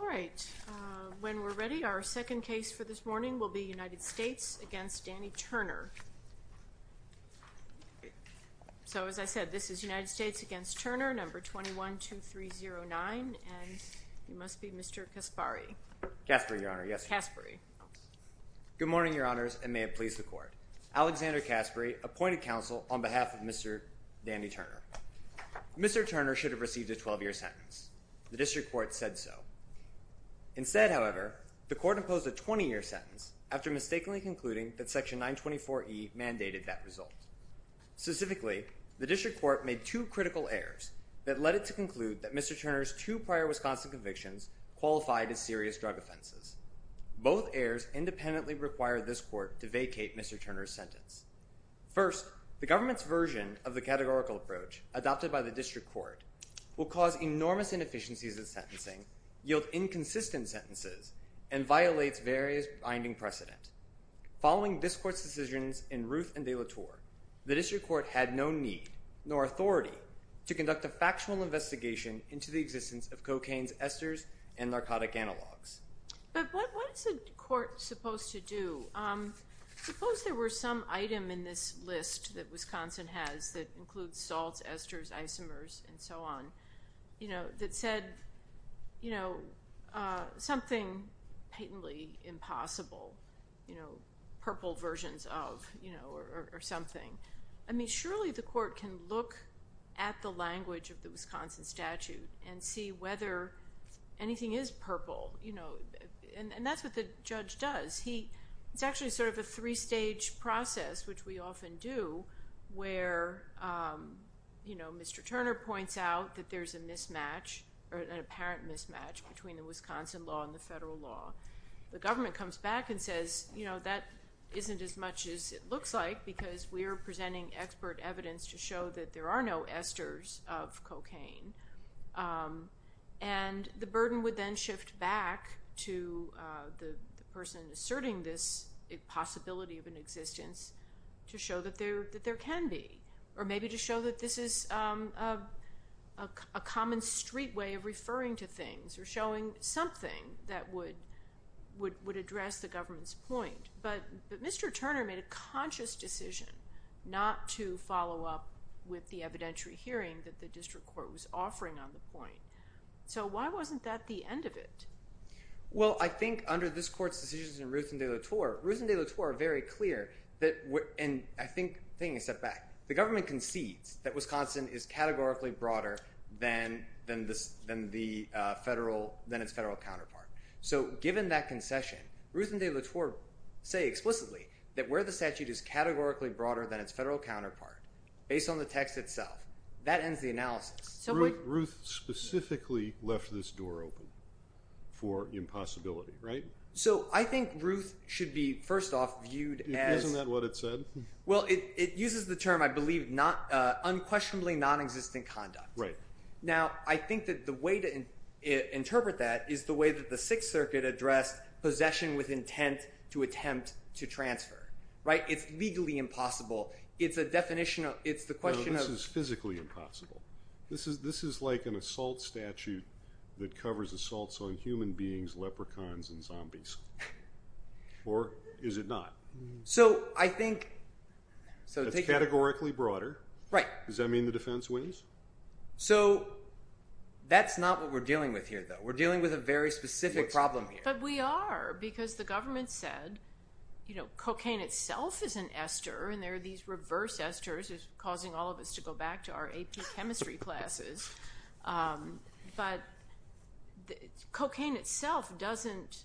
All right. When we're ready, our second case for this morning will be United States v. Danny Turner. So, as I said, this is United States v. Turner, No. 21-2309, and you must be Mr. Kaspari. Kaspari, Your Honor. Yes. Kaspari. Good morning, Your Honors, and may it please the Court. Alexander Kaspari, appointed counsel on behalf of Mr. Danny Turner. Mr. Turner should have received a 12-year sentence. The District Court said so. Instead, however, the Court imposed a 20-year sentence after mistakenly concluding that Section 924E mandated that result. Specifically, the District Court made two critical errors that led it to conclude that Mr. Turner's two prior Wisconsin convictions qualified as serious drug offenses. Both errors independently require this Court to vacate Mr. Turner's sentence. First, the government's version of the categorical approach adopted by the District Court will cause enormous inefficiencies in sentencing, yield inconsistent sentences, and violate various binding precedent. Following this Court's decisions in Ruth and de la Tour, the District Court had no need, nor authority, to conduct a factual investigation into the existence of cocaine's esters and narcotic analogs. But what is the Court supposed to do? Suppose there were some item in this list that Wisconsin has that includes salts, esters, isomers, and so on, that said something patently impossible, purple versions of, or something. I mean, surely the Court can look at the language of the Wisconsin statute and see whether anything is purple. And that's what the judge does. It's actually sort of a three-stage process, which we often do, where Mr. Turner points out that there's a mismatch, or an apparent mismatch, between the Wisconsin law and the federal law. The government comes back and says, you know, that isn't as much as it looks like, because we are presenting expert evidence to show that there are no esters of cocaine. And the burden would then shift back to the person asserting this possibility of an existence to show that there can be, or maybe to show that this is a common street way of referring to things or showing something that would address the government's point. But Mr. Turner made a conscious decision not to follow up with the evidentiary hearing that the district court was offering on the point. So why wasn't that the end of it? Well, I think under this Court's decisions in Ruth and de la Torre, Ruth and de la Torre are very clear, and I think taking a step back, the government concedes that Wisconsin is categorically broader than its federal counterpart. So given that concession, Ruth and de la Torre say explicitly that where the statute is categorically broader than its federal counterpart, based on the text itself, that ends the analysis. Ruth specifically left this door open for impossibility, right? So I think Ruth should be, first off, viewed as – Isn't that what it said? Well, it uses the term, I believe, unquestionably non-existent conduct. Right. Now, I think that the way to interpret that is the way that the Sixth Circuit addressed possession with intent to attempt to transfer, right? It's legally impossible. It's a definition of – it's the question of – No, this is physically impossible. This is like an assault statute that covers assaults on human beings, leprechauns, and zombies. Or is it not? So I think – It's categorically broader. Right. Does that mean the defense wins? So that's not what we're dealing with here, though. We're dealing with a very specific problem here. But we are, because the government said cocaine itself is an ester, and there are these reverse esters, which is causing all of us to go back to our AP chemistry classes. But cocaine itself doesn't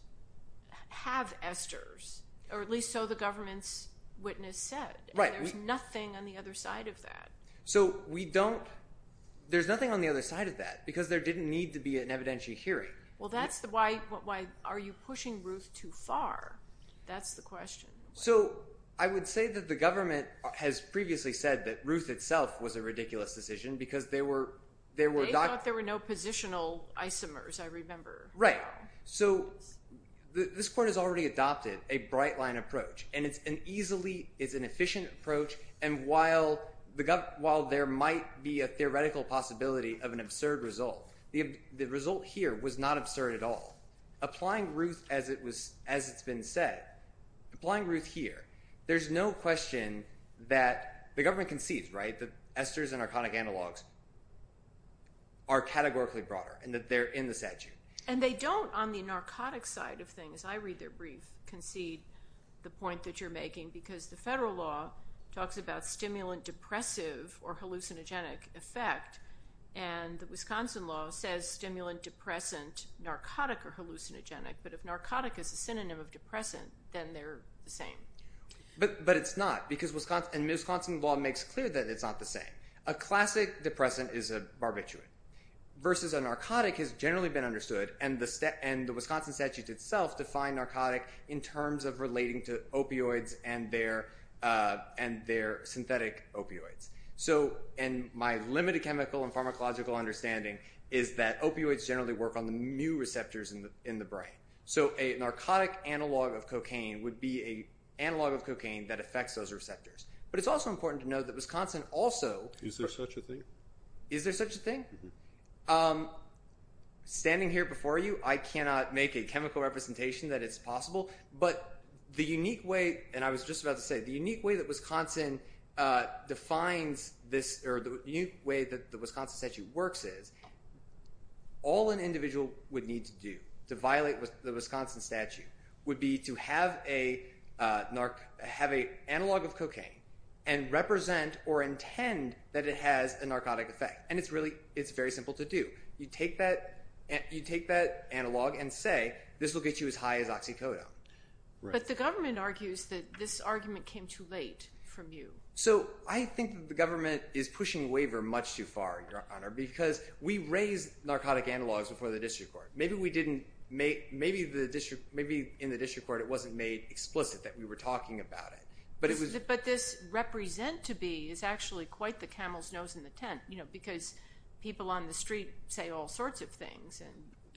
have esters, or at least so the government's witness said. Right. And there's nothing on the other side of that. So we don't – there's nothing on the other side of that because there didn't need to be an evidentiary hearing. Well, that's why – why are you pushing Ruth too far? That's the question. So I would say that the government has previously said that Ruth itself was a ridiculous decision because there were – They thought there were no positional isomers, I remember. Right. So this court has already adopted a bright-line approach, and it's an easily – it's an efficient approach. And while there might be a theoretical possibility of an absurd result, the result here was not absurd at all. Applying Ruth as it's been said, applying Ruth here, there's no question that – the government concedes, right, that esters and narcotic analogs are categorically broader and that they're in the statute. And they don't, on the narcotic side of things – I read their brief – concede the point that you're making because the federal law talks about stimulant-depressive or hallucinogenic effect, and the Wisconsin law says stimulant-depressant, narcotic or hallucinogenic. But if narcotic is a synonym of depressant, then they're the same. But it's not because – and Wisconsin law makes clear that it's not the same. A classic depressant is a barbiturate versus a narcotic has generally been understood, and the Wisconsin statute itself defined narcotic in terms of relating to opioids and their synthetic opioids. So – and my limited chemical and pharmacological understanding is that opioids generally work on the mu receptors in the brain. So a narcotic analog of cocaine would be an analog of cocaine that affects those receptors. But it's also important to know that Wisconsin also – Is there such a thing? Is there such a thing? Standing here before you, I cannot make a chemical representation that it's possible. But the unique way – and I was just about to say the unique way that Wisconsin defines this – or the unique way that the Wisconsin statute works is all an individual would need to do to violate the Wisconsin statute would be to have a analog of cocaine and represent or intend that it has a narcotic effect. And it's really – it's very simple to do. You take that analog and say, this will get you as high as oxycodone. But the government argues that this argument came too late from you. So I think that the government is pushing waiver much too far, Your Honor, because we raised narcotic analogs before the district court. Maybe we didn't – maybe in the district court it wasn't made explicit that we were talking about it. But this represent to be is actually quite the camel's nose in the tent because people on the street say all sorts of things.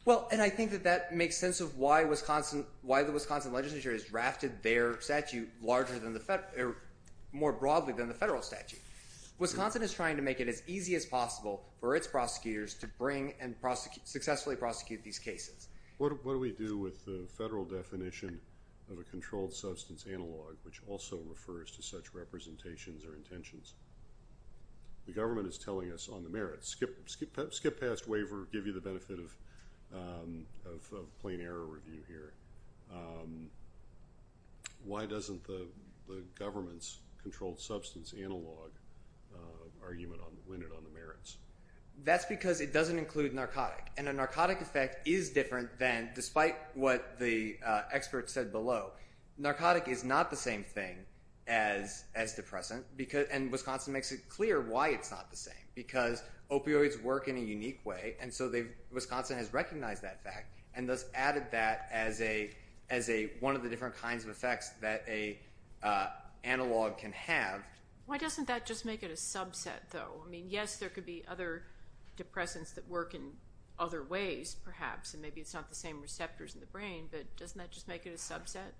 Well, and I think that that makes sense of why Wisconsin – why the Wisconsin legislature has drafted their statute larger than the – or more broadly than the federal statute. Wisconsin is trying to make it as easy as possible for its prosecutors to bring and successfully prosecute these cases. What do we do with the federal definition of a controlled substance analog, which also refers to such representations or intentions? The government is telling us on the merits, skip past waiver, give you the benefit of plain error review here. Why doesn't the government's controlled substance analog argument win it on the merits? That's because it doesn't include narcotic. And a narcotic effect is different than – despite what the experts said below. Narcotic is not the same thing as depressant and Wisconsin makes it clear why it's not the same because opioids work in a unique way and so they've – Wisconsin has recognized that fact and thus added that as a – as a – one of the different kinds of effects that a analog can have. Why doesn't that just make it a subset though? I mean, yes, there could be other depressants that work in other ways perhaps and maybe it's not the same receptors in the brain, but doesn't that just make it a subset?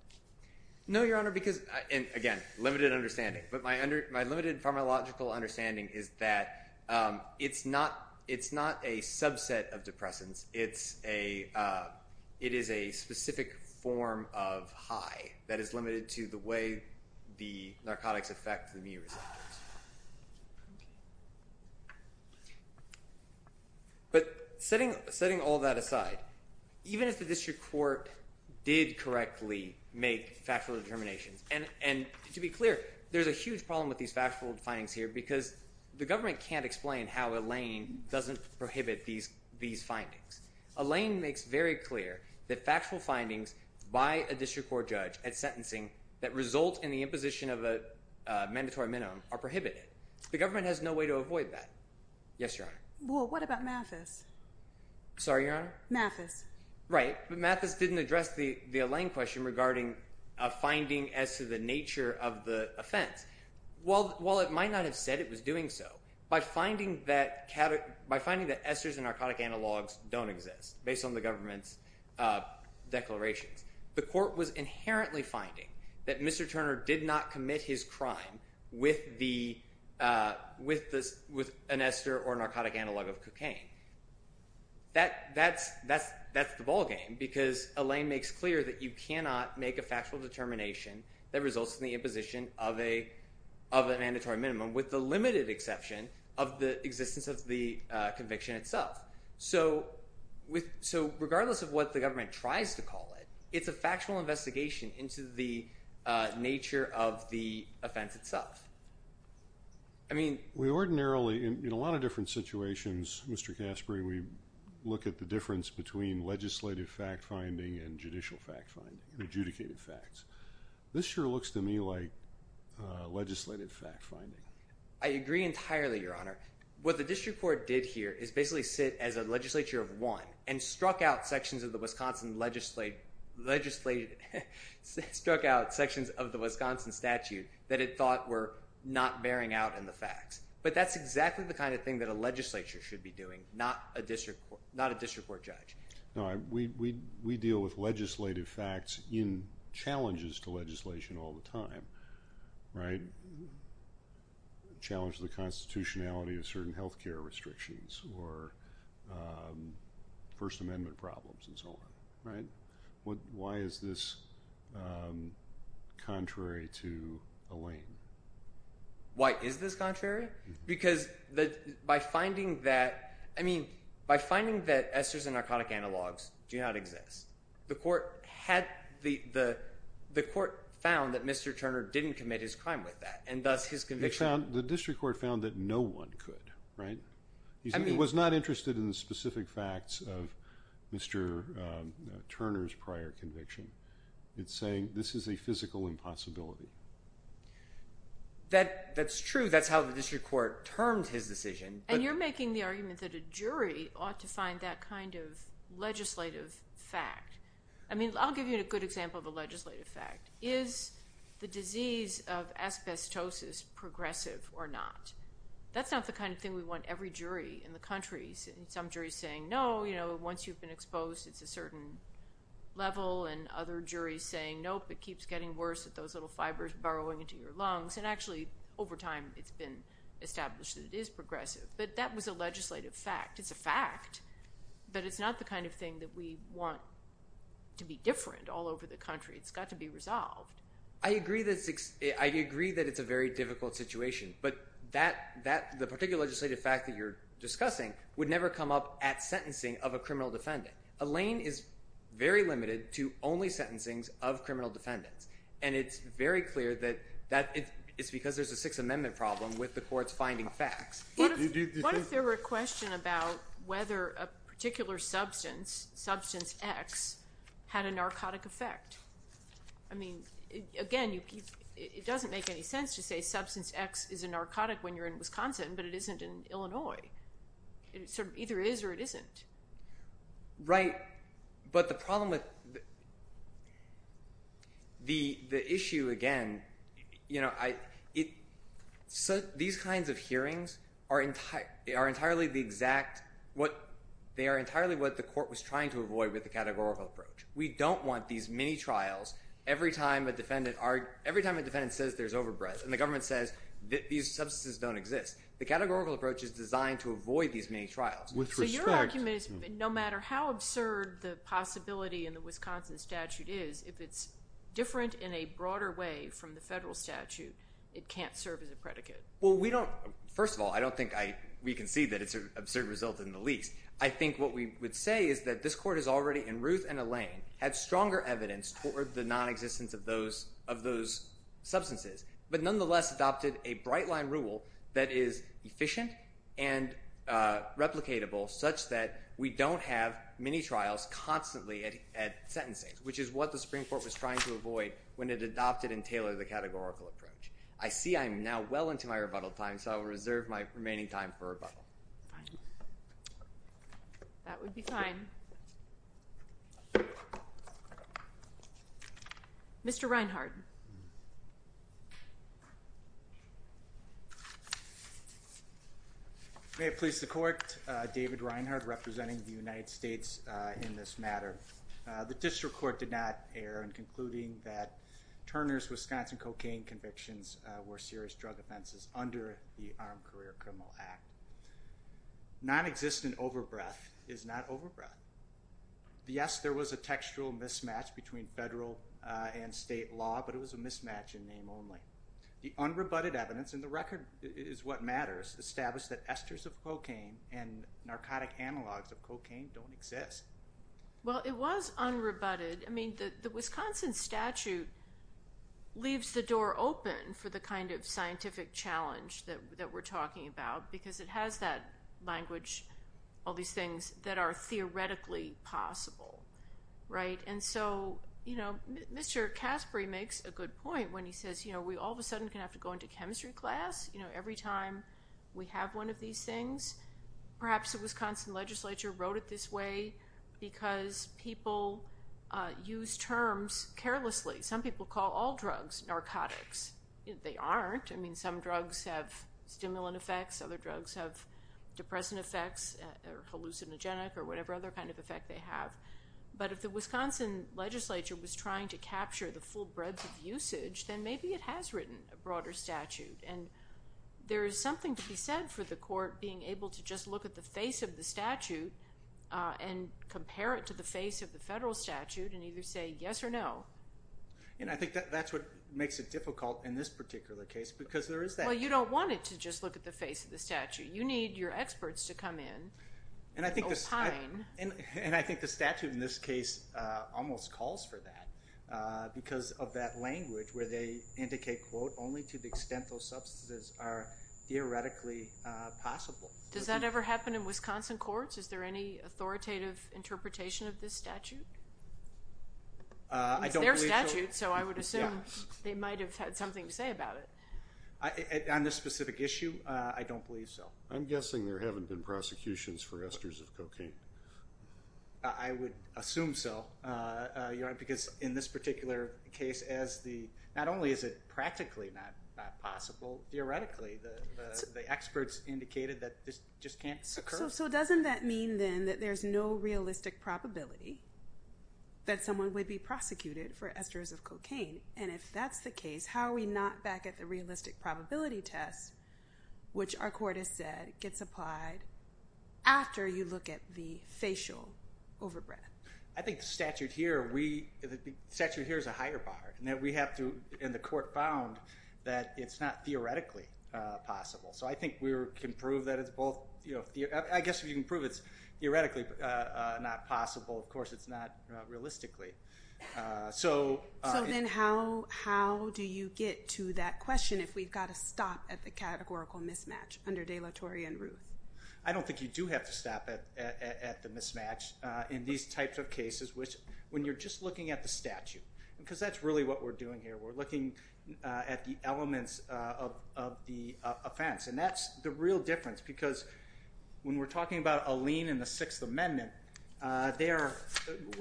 No, Your Honor, because – and again, limited understanding. But my limited pharmacological understanding is that it's not – it's not a subset of depressants. It's a – it is a specific form of high that is limited to the way the narcotics affect the mu receptors. But setting all that aside, even if the district court did correctly make factual determinations and to be clear, there's a huge problem with these factual findings here because the government can't explain how a lane doesn't prohibit these findings. A lane makes very clear that factual findings by a district court judge at sentencing that result in the imposition of a mandatory minimum are prohibited. The government has no way to avoid that. Yes, Your Honor. Well, what about Mathis? Sorry, Your Honor? Mathis. Right, but Mathis didn't address the lane question regarding a finding as to the nature of the offense. While it might not have said it was doing so, by finding that – by finding that esters and narcotic analogs don't exist based on the government's declarations, the court was inherently finding that Mr. Turner did not commit his crime with the – with an ester or narcotic analog of cocaine. That's the ballgame because a lane makes clear that you cannot make a factual determination that results in the imposition of a mandatory minimum with the limited exception of the existence of the conviction itself. So regardless of what the government tries to call it, it's a factual investigation into the nature of the offense itself. I mean – We ordinarily – in a lot of different situations, Mr. Caspary, we look at the difference between legislative fact-finding and judicial fact-finding, adjudicated facts. This sure looks to me like legislative fact-finding. I agree entirely, Your Honor. What the district court did here is basically sit as a legislature of one and struck out sections of the Wisconsin – struck out sections of the Wisconsin statute that it thought were not bearing out in the facts. But that's exactly the kind of thing that a legislature should be doing, not a district court judge. No, we deal with legislative facts in challenges to legislation all the time, right? Challenges to the constitutionality of certain health care restrictions or First Amendment problems and so on, right? Why is this contrary to the lane? Why is this contrary? Because by finding that – I mean by finding that esters and narcotic analogs do not exist, the court had – the court found that Mr. Turner didn't commit his crime with that and thus his conviction – The district court found that no one could, right? It was not interested in the specific facts of Mr. Turner's prior conviction. It's saying this is a physical impossibility. That's true. That's how the district court terms his decision. And you're making the argument that a jury ought to find that kind of legislative fact. I mean I'll give you a good example of a legislative fact. Is the disease of asbestosis progressive or not? That's not the kind of thing we want every jury in the country. Some juries saying no, you know, once you've been exposed it's a certain level and other juries saying nope, it keeps getting worse with those little fibers burrowing into your lungs. And actually over time it's been established that it is progressive. But that was a legislative fact. It's a fact. But it's not the kind of thing that we want to be different all over the country. It's got to be resolved. I agree that it's a very difficult situation. But the particular legislative fact that you're discussing would never come up at sentencing of a criminal defendant. A lane is very limited to only sentencings of criminal defendants. And it's very clear that it's because there's a Sixth Amendment problem with the courts finding facts. What if there were a question about whether a particular substance, Substance X, had a narcotic effect? I mean, again, it doesn't make any sense to say Substance X is a narcotic when you're in Wisconsin, but it isn't in Illinois. It sort of either is or it isn't. Right. But the problem with the issue, again, you know, these kinds of hearings are entirely the exact – they are entirely what the court was trying to avoid with the categorical approach. We don't want these mini-trials every time a defendant says there's overbreadth and the government says these substances don't exist. The categorical approach is designed to avoid these mini-trials. So your argument is no matter how absurd the possibility in the Wisconsin statute is, if it's different in a broader way from the federal statute, it can't serve as a predicate. Well, we don't – first of all, I don't think we can see that it's an absurd result in the least. I think what we would say is that this court has already, in Ruth and Elaine, had stronger evidence toward the nonexistence of those substances, but nonetheless adopted a bright-line rule that is efficient and replicatable such that we don't have mini-trials constantly at sentencing, which is what the Supreme Court was trying to avoid when it adopted and tailored the categorical approach. I see I'm now well into my rebuttal time, so I will reserve my remaining time for rebuttal. That would be fine. Mr. Reinhardt. May it please the Court, David Reinhardt representing the United States in this matter. The district court did not err in concluding that Turner's Wisconsin cocaine convictions were serious drug offenses under the Armed Career Criminal Act. Nonexistent overbreath is not overbreath. Yes, there was a textual mismatch between federal and state law, but it was a mismatch in name only. The unrebutted evidence, and the record is what matters, established that esters of cocaine and narcotic analogs of cocaine don't exist. Well, it was unrebutted. I mean, the Wisconsin statute leaves the door open for the kind of scientific challenge that we're talking about because it has that language, all these things that are theoretically possible, right? And so, you know, Mr. Caspary makes a good point when he says, you know, we all of a sudden can have to go into chemistry class, you know, every time we have one of these things. Perhaps the Wisconsin legislature wrote it this way because people use terms carelessly. Some people call all drugs narcotics. They aren't. I mean, some drugs have stimulant effects. Other drugs have depressant effects or hallucinogenic or whatever other kind of effect they have. But if the Wisconsin legislature was trying to capture the full breadth of usage, then maybe it has written a broader statute. And there is something to be said for the court being able to just look at the face of the statute and compare it to the face of the federal statute and either say yes or no. And I think that's what makes it difficult in this particular case because there is that. Well, you don't want it to just look at the face of the statute. You need your experts to come in and opine. And I think the statute in this case almost calls for that because of that language where they indicate, quote, only to the extent those substances are theoretically possible. Does that ever happen in Wisconsin courts? Is there any authoritative interpretation of this statute? It's their statute, so I would assume they might have had something to say about it. On this specific issue, I don't believe so. I'm guessing there haven't been prosecutions for esters of cocaine. I would assume so because in this particular case, not only is it practically not possible, theoretically the experts indicated that this just can't occur. So doesn't that mean then that there's no realistic probability that someone would be prosecuted for esters of cocaine? And if that's the case, how are we not back at the realistic probability test, which our court has said gets applied after you look at the facial overbreath? I think the statute here is a higher bar. And the court found that it's not theoretically possible. So I think we can prove that it's both. I guess if you can prove it's theoretically not possible, of course it's not realistically. So then how do you get to that question if we've got to stop at the categorical mismatch under De La Torre and Ruth? I don't think you do have to stop at the mismatch in these types of cases when you're just looking at the statute because that's really what we're doing here. We're looking at the elements of the offense. And that's the real difference because when we're talking about a lien in the Sixth Amendment, we're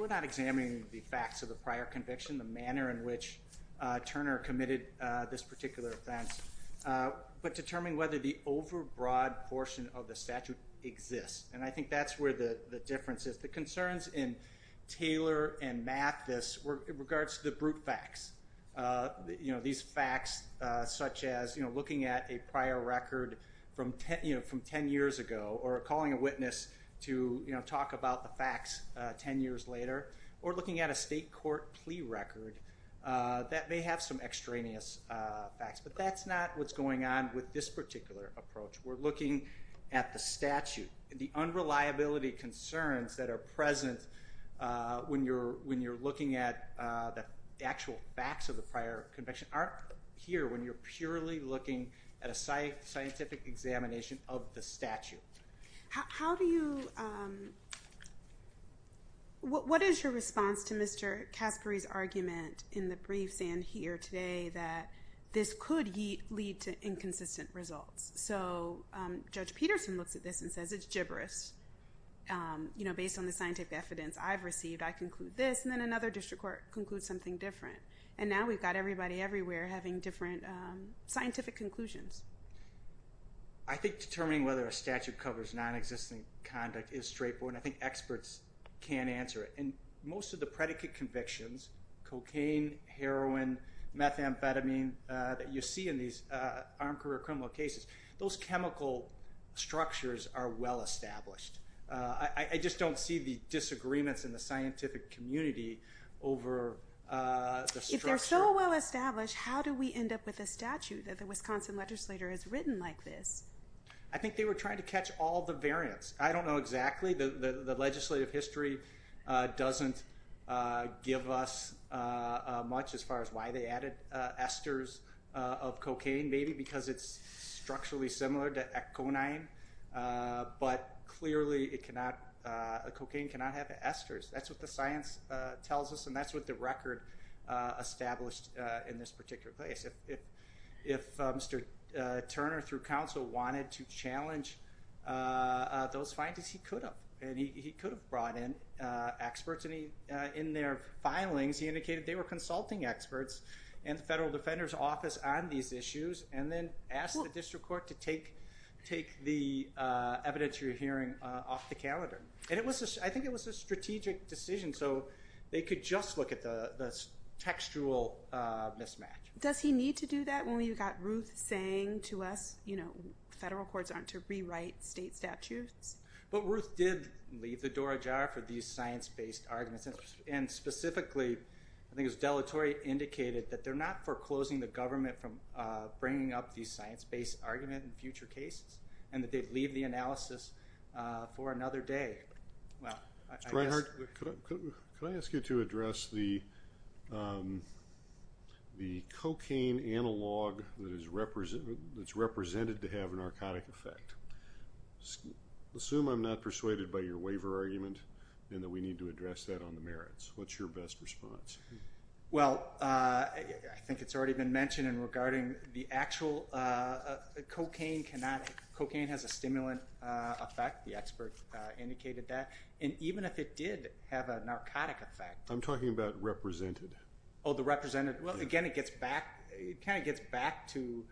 not examining the facts of the prior conviction, the manner in which Turner committed this particular offense, but determining whether the overbroad portion of the statute exists. And I think that's where the difference is. The concerns in Taylor and Mathis were in regards to the brute facts, these facts such as looking at a prior record from 10 years ago or calling a witness to talk about the facts 10 years later or looking at a state court plea record that may have some extraneous facts. But that's not what's going on with this particular approach. We're looking at the statute. The unreliability concerns that are present when you're looking at the actual facts of the prior conviction aren't here when you're purely looking at a scientific examination of the statute. How do you – what is your response to Mr. Caspary's argument in the briefs and here today that this could lead to inconsistent results? So Judge Peterson looks at this and says it's gibberish. You know, based on the scientific evidence I've received, I conclude this, and then another district court concludes something different. And now we've got everybody everywhere having different scientific conclusions. I think determining whether a statute covers nonexistent conduct is straightforward, and I think experts can answer it. And most of the predicate convictions, cocaine, heroin, methamphetamine, that you see in these armed career criminal cases, those chemical structures are well established. I just don't see the disagreements in the scientific community over the structure. If they're so well established, how do we end up with a statute that the Wisconsin legislator has written like this? I think they were trying to catch all the variants. I don't know exactly. The legislative history doesn't give us much as far as why they added esters of cocaine, maybe, because it's structurally similar to Econine, but clearly cocaine cannot have esters. That's what the science tells us, and that's what the record established in this particular case. If Mr. Turner, through counsel, wanted to challenge those findings, he could have, and he could have brought in experts. In their filings, he indicated they were consulting experts and the Federal Defender's Office on these issues, and then asked the district court to take the evidence you're hearing off the calendar. And I think it was a strategic decision, so they could just look at the textual mismatch. Does he need to do that when we've got Ruth saying to us, you know, federal courts aren't to rewrite state statutes? But Ruth did leave the door ajar for these science-based arguments, and specifically, I think it was deletory, indicated that they're not foreclosing the government from bringing up these science-based arguments in future cases, and that they'd leave the analysis for another day. Mr. Reinhart, could I ask you to address the cocaine analog that's represented to have a narcotic effect? I assume I'm not persuaded by your waiver argument and that we need to address that on the merits. What's your best response? Well, I think it's already been mentioned, and regarding the actual cocaine, cocaine has a stimulant effect, the expert indicated that, and even if it did have a narcotic effect. I'm talking about represented. Oh, the represented. Well, again, it kind of gets back to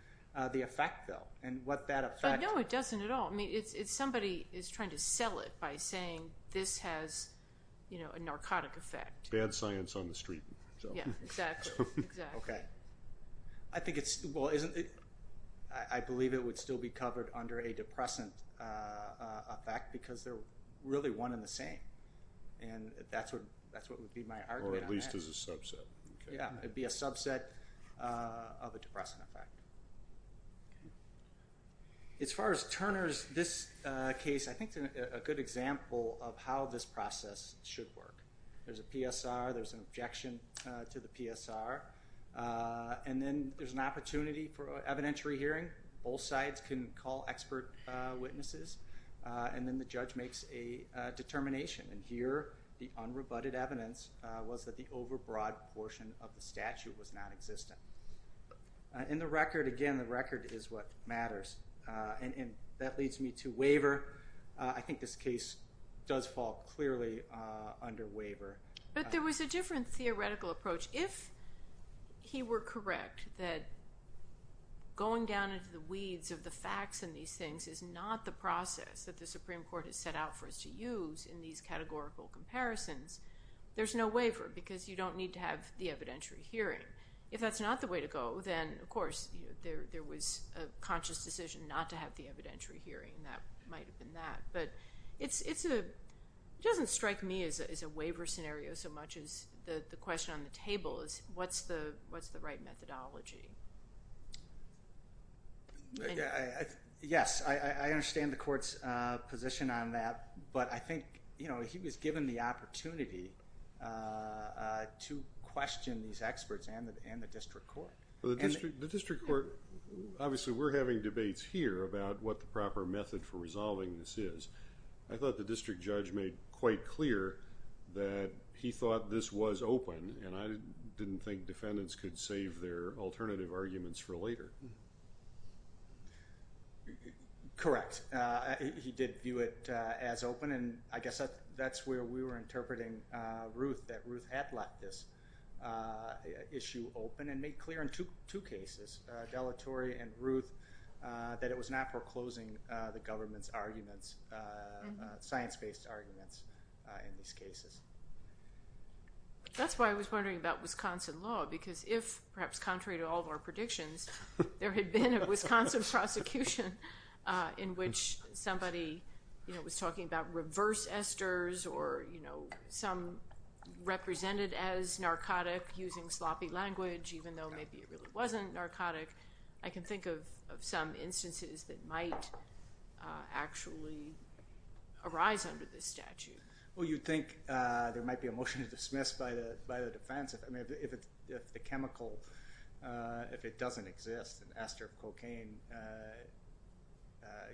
the effect, though, and what that effect is. But no, it doesn't at all. I mean, it's somebody is trying to sell it by saying this has a narcotic effect. Bad science on the street. Yeah, exactly. Okay. I think it's, well, I believe it would still be covered under a depressant effect because they're really one and the same, and that's what would be my argument on that. Or at least as a subset. Yeah, it'd be a subset of a depressant effect. Okay. As far as Turner's case, I think it's a good example of how this process should work. There's a PSR. There's an objection to the PSR, and then there's an opportunity for evidentiary hearing. Both sides can call expert witnesses, and then the judge makes a determination, and here the unrebutted evidence was that the overbroad portion of the statute was nonexistent. And the record, again, the record is what matters. And that leads me to waiver. I think this case does fall clearly under waiver. But there was a different theoretical approach. If he were correct that going down into the weeds of the facts in these things is not the process that the Supreme Court has set out for us to use in these categorical comparisons, there's no waiver because you don't need to have the evidentiary hearing. If that's not the way to go, then, of course, there was a conscious decision not to have the evidentiary hearing, and that might have been that. But it doesn't strike me as a waiver scenario so much as the question on the table is, what's the right methodology? Yes, I understand the court's position on that, but I think he was given the opportunity to question these experts and the district court. The district court, obviously we're having debates here about what the proper method for resolving this is. I thought the district judge made quite clear that he thought this was open, and I didn't think defendants could save their alternative arguments for later. Correct. He did view it as open, and I guess that's where we were interpreting Ruth, that Ruth had left this issue open and made clear in two cases, Dellatorre and Ruth, that it was not foreclosing the government's arguments, science-based arguments in these cases. That's why I was wondering about Wisconsin law because if, perhaps contrary to all of our predictions, there had been a Wisconsin prosecution in which somebody was talking about reverse esters or some represented as narcotic using sloppy language even though maybe it really wasn't narcotic. I can think of some instances that might actually arise under this statute. Well, you'd think there might be a motion to dismiss by the defense. If the chemical, if it doesn't exist, an ester of cocaine,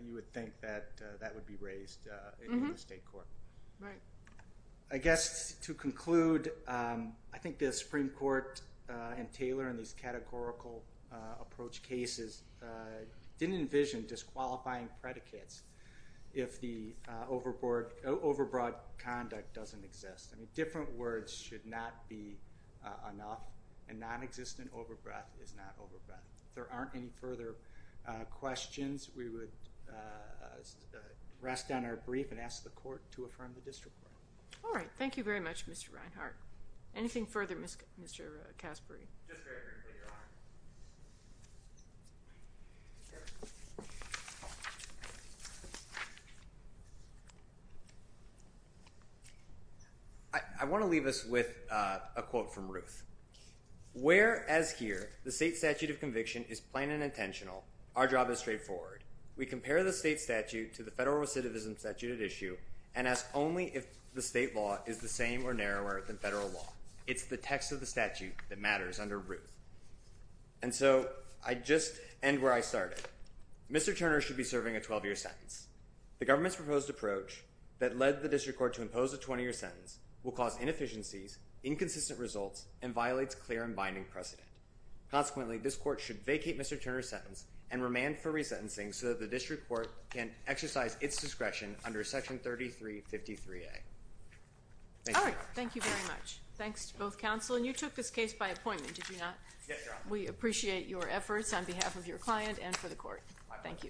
you would think that that would be raised in the state court. Right. I guess to conclude, I think the Supreme Court and Taylor in these categorical approach cases didn't envision disqualifying predicates if the overbroad conduct doesn't exist. I mean, different words should not be enough, and nonexistent overbreath is not overbreath. If there aren't any further questions, we would rest on our brief and ask the court to affirm the district court. All right. Thank you very much, Mr. Reinhart. Anything further, Mr. Caspary? Just very briefly, Your Honor. I want to leave us with a quote from Ruth. Whereas here the state statute of conviction is plain and intentional, our job is straightforward. We compare the state statute to the federal recidivism statute at issue and ask only if the state law is the same or narrower than federal law. It's the text of the statute that matters under Ruth. And so I just end where I started. Mr. Turner should be serving a 12-year sentence. The government's proposed approach that led the district court to impose a 20-year sentence will cause inefficiencies, inconsistent results, and violates clear and binding precedent. Consequently, this court should vacate Mr. Turner's sentence and remand for resentencing so that the district court can exercise its discretion under Section 3353A. All right. Thank you very much. Thanks to both counsel. And you took this case by appointment, did you not? Yes, Your Honor. We appreciate your efforts on behalf of your client and for the court. Thank you.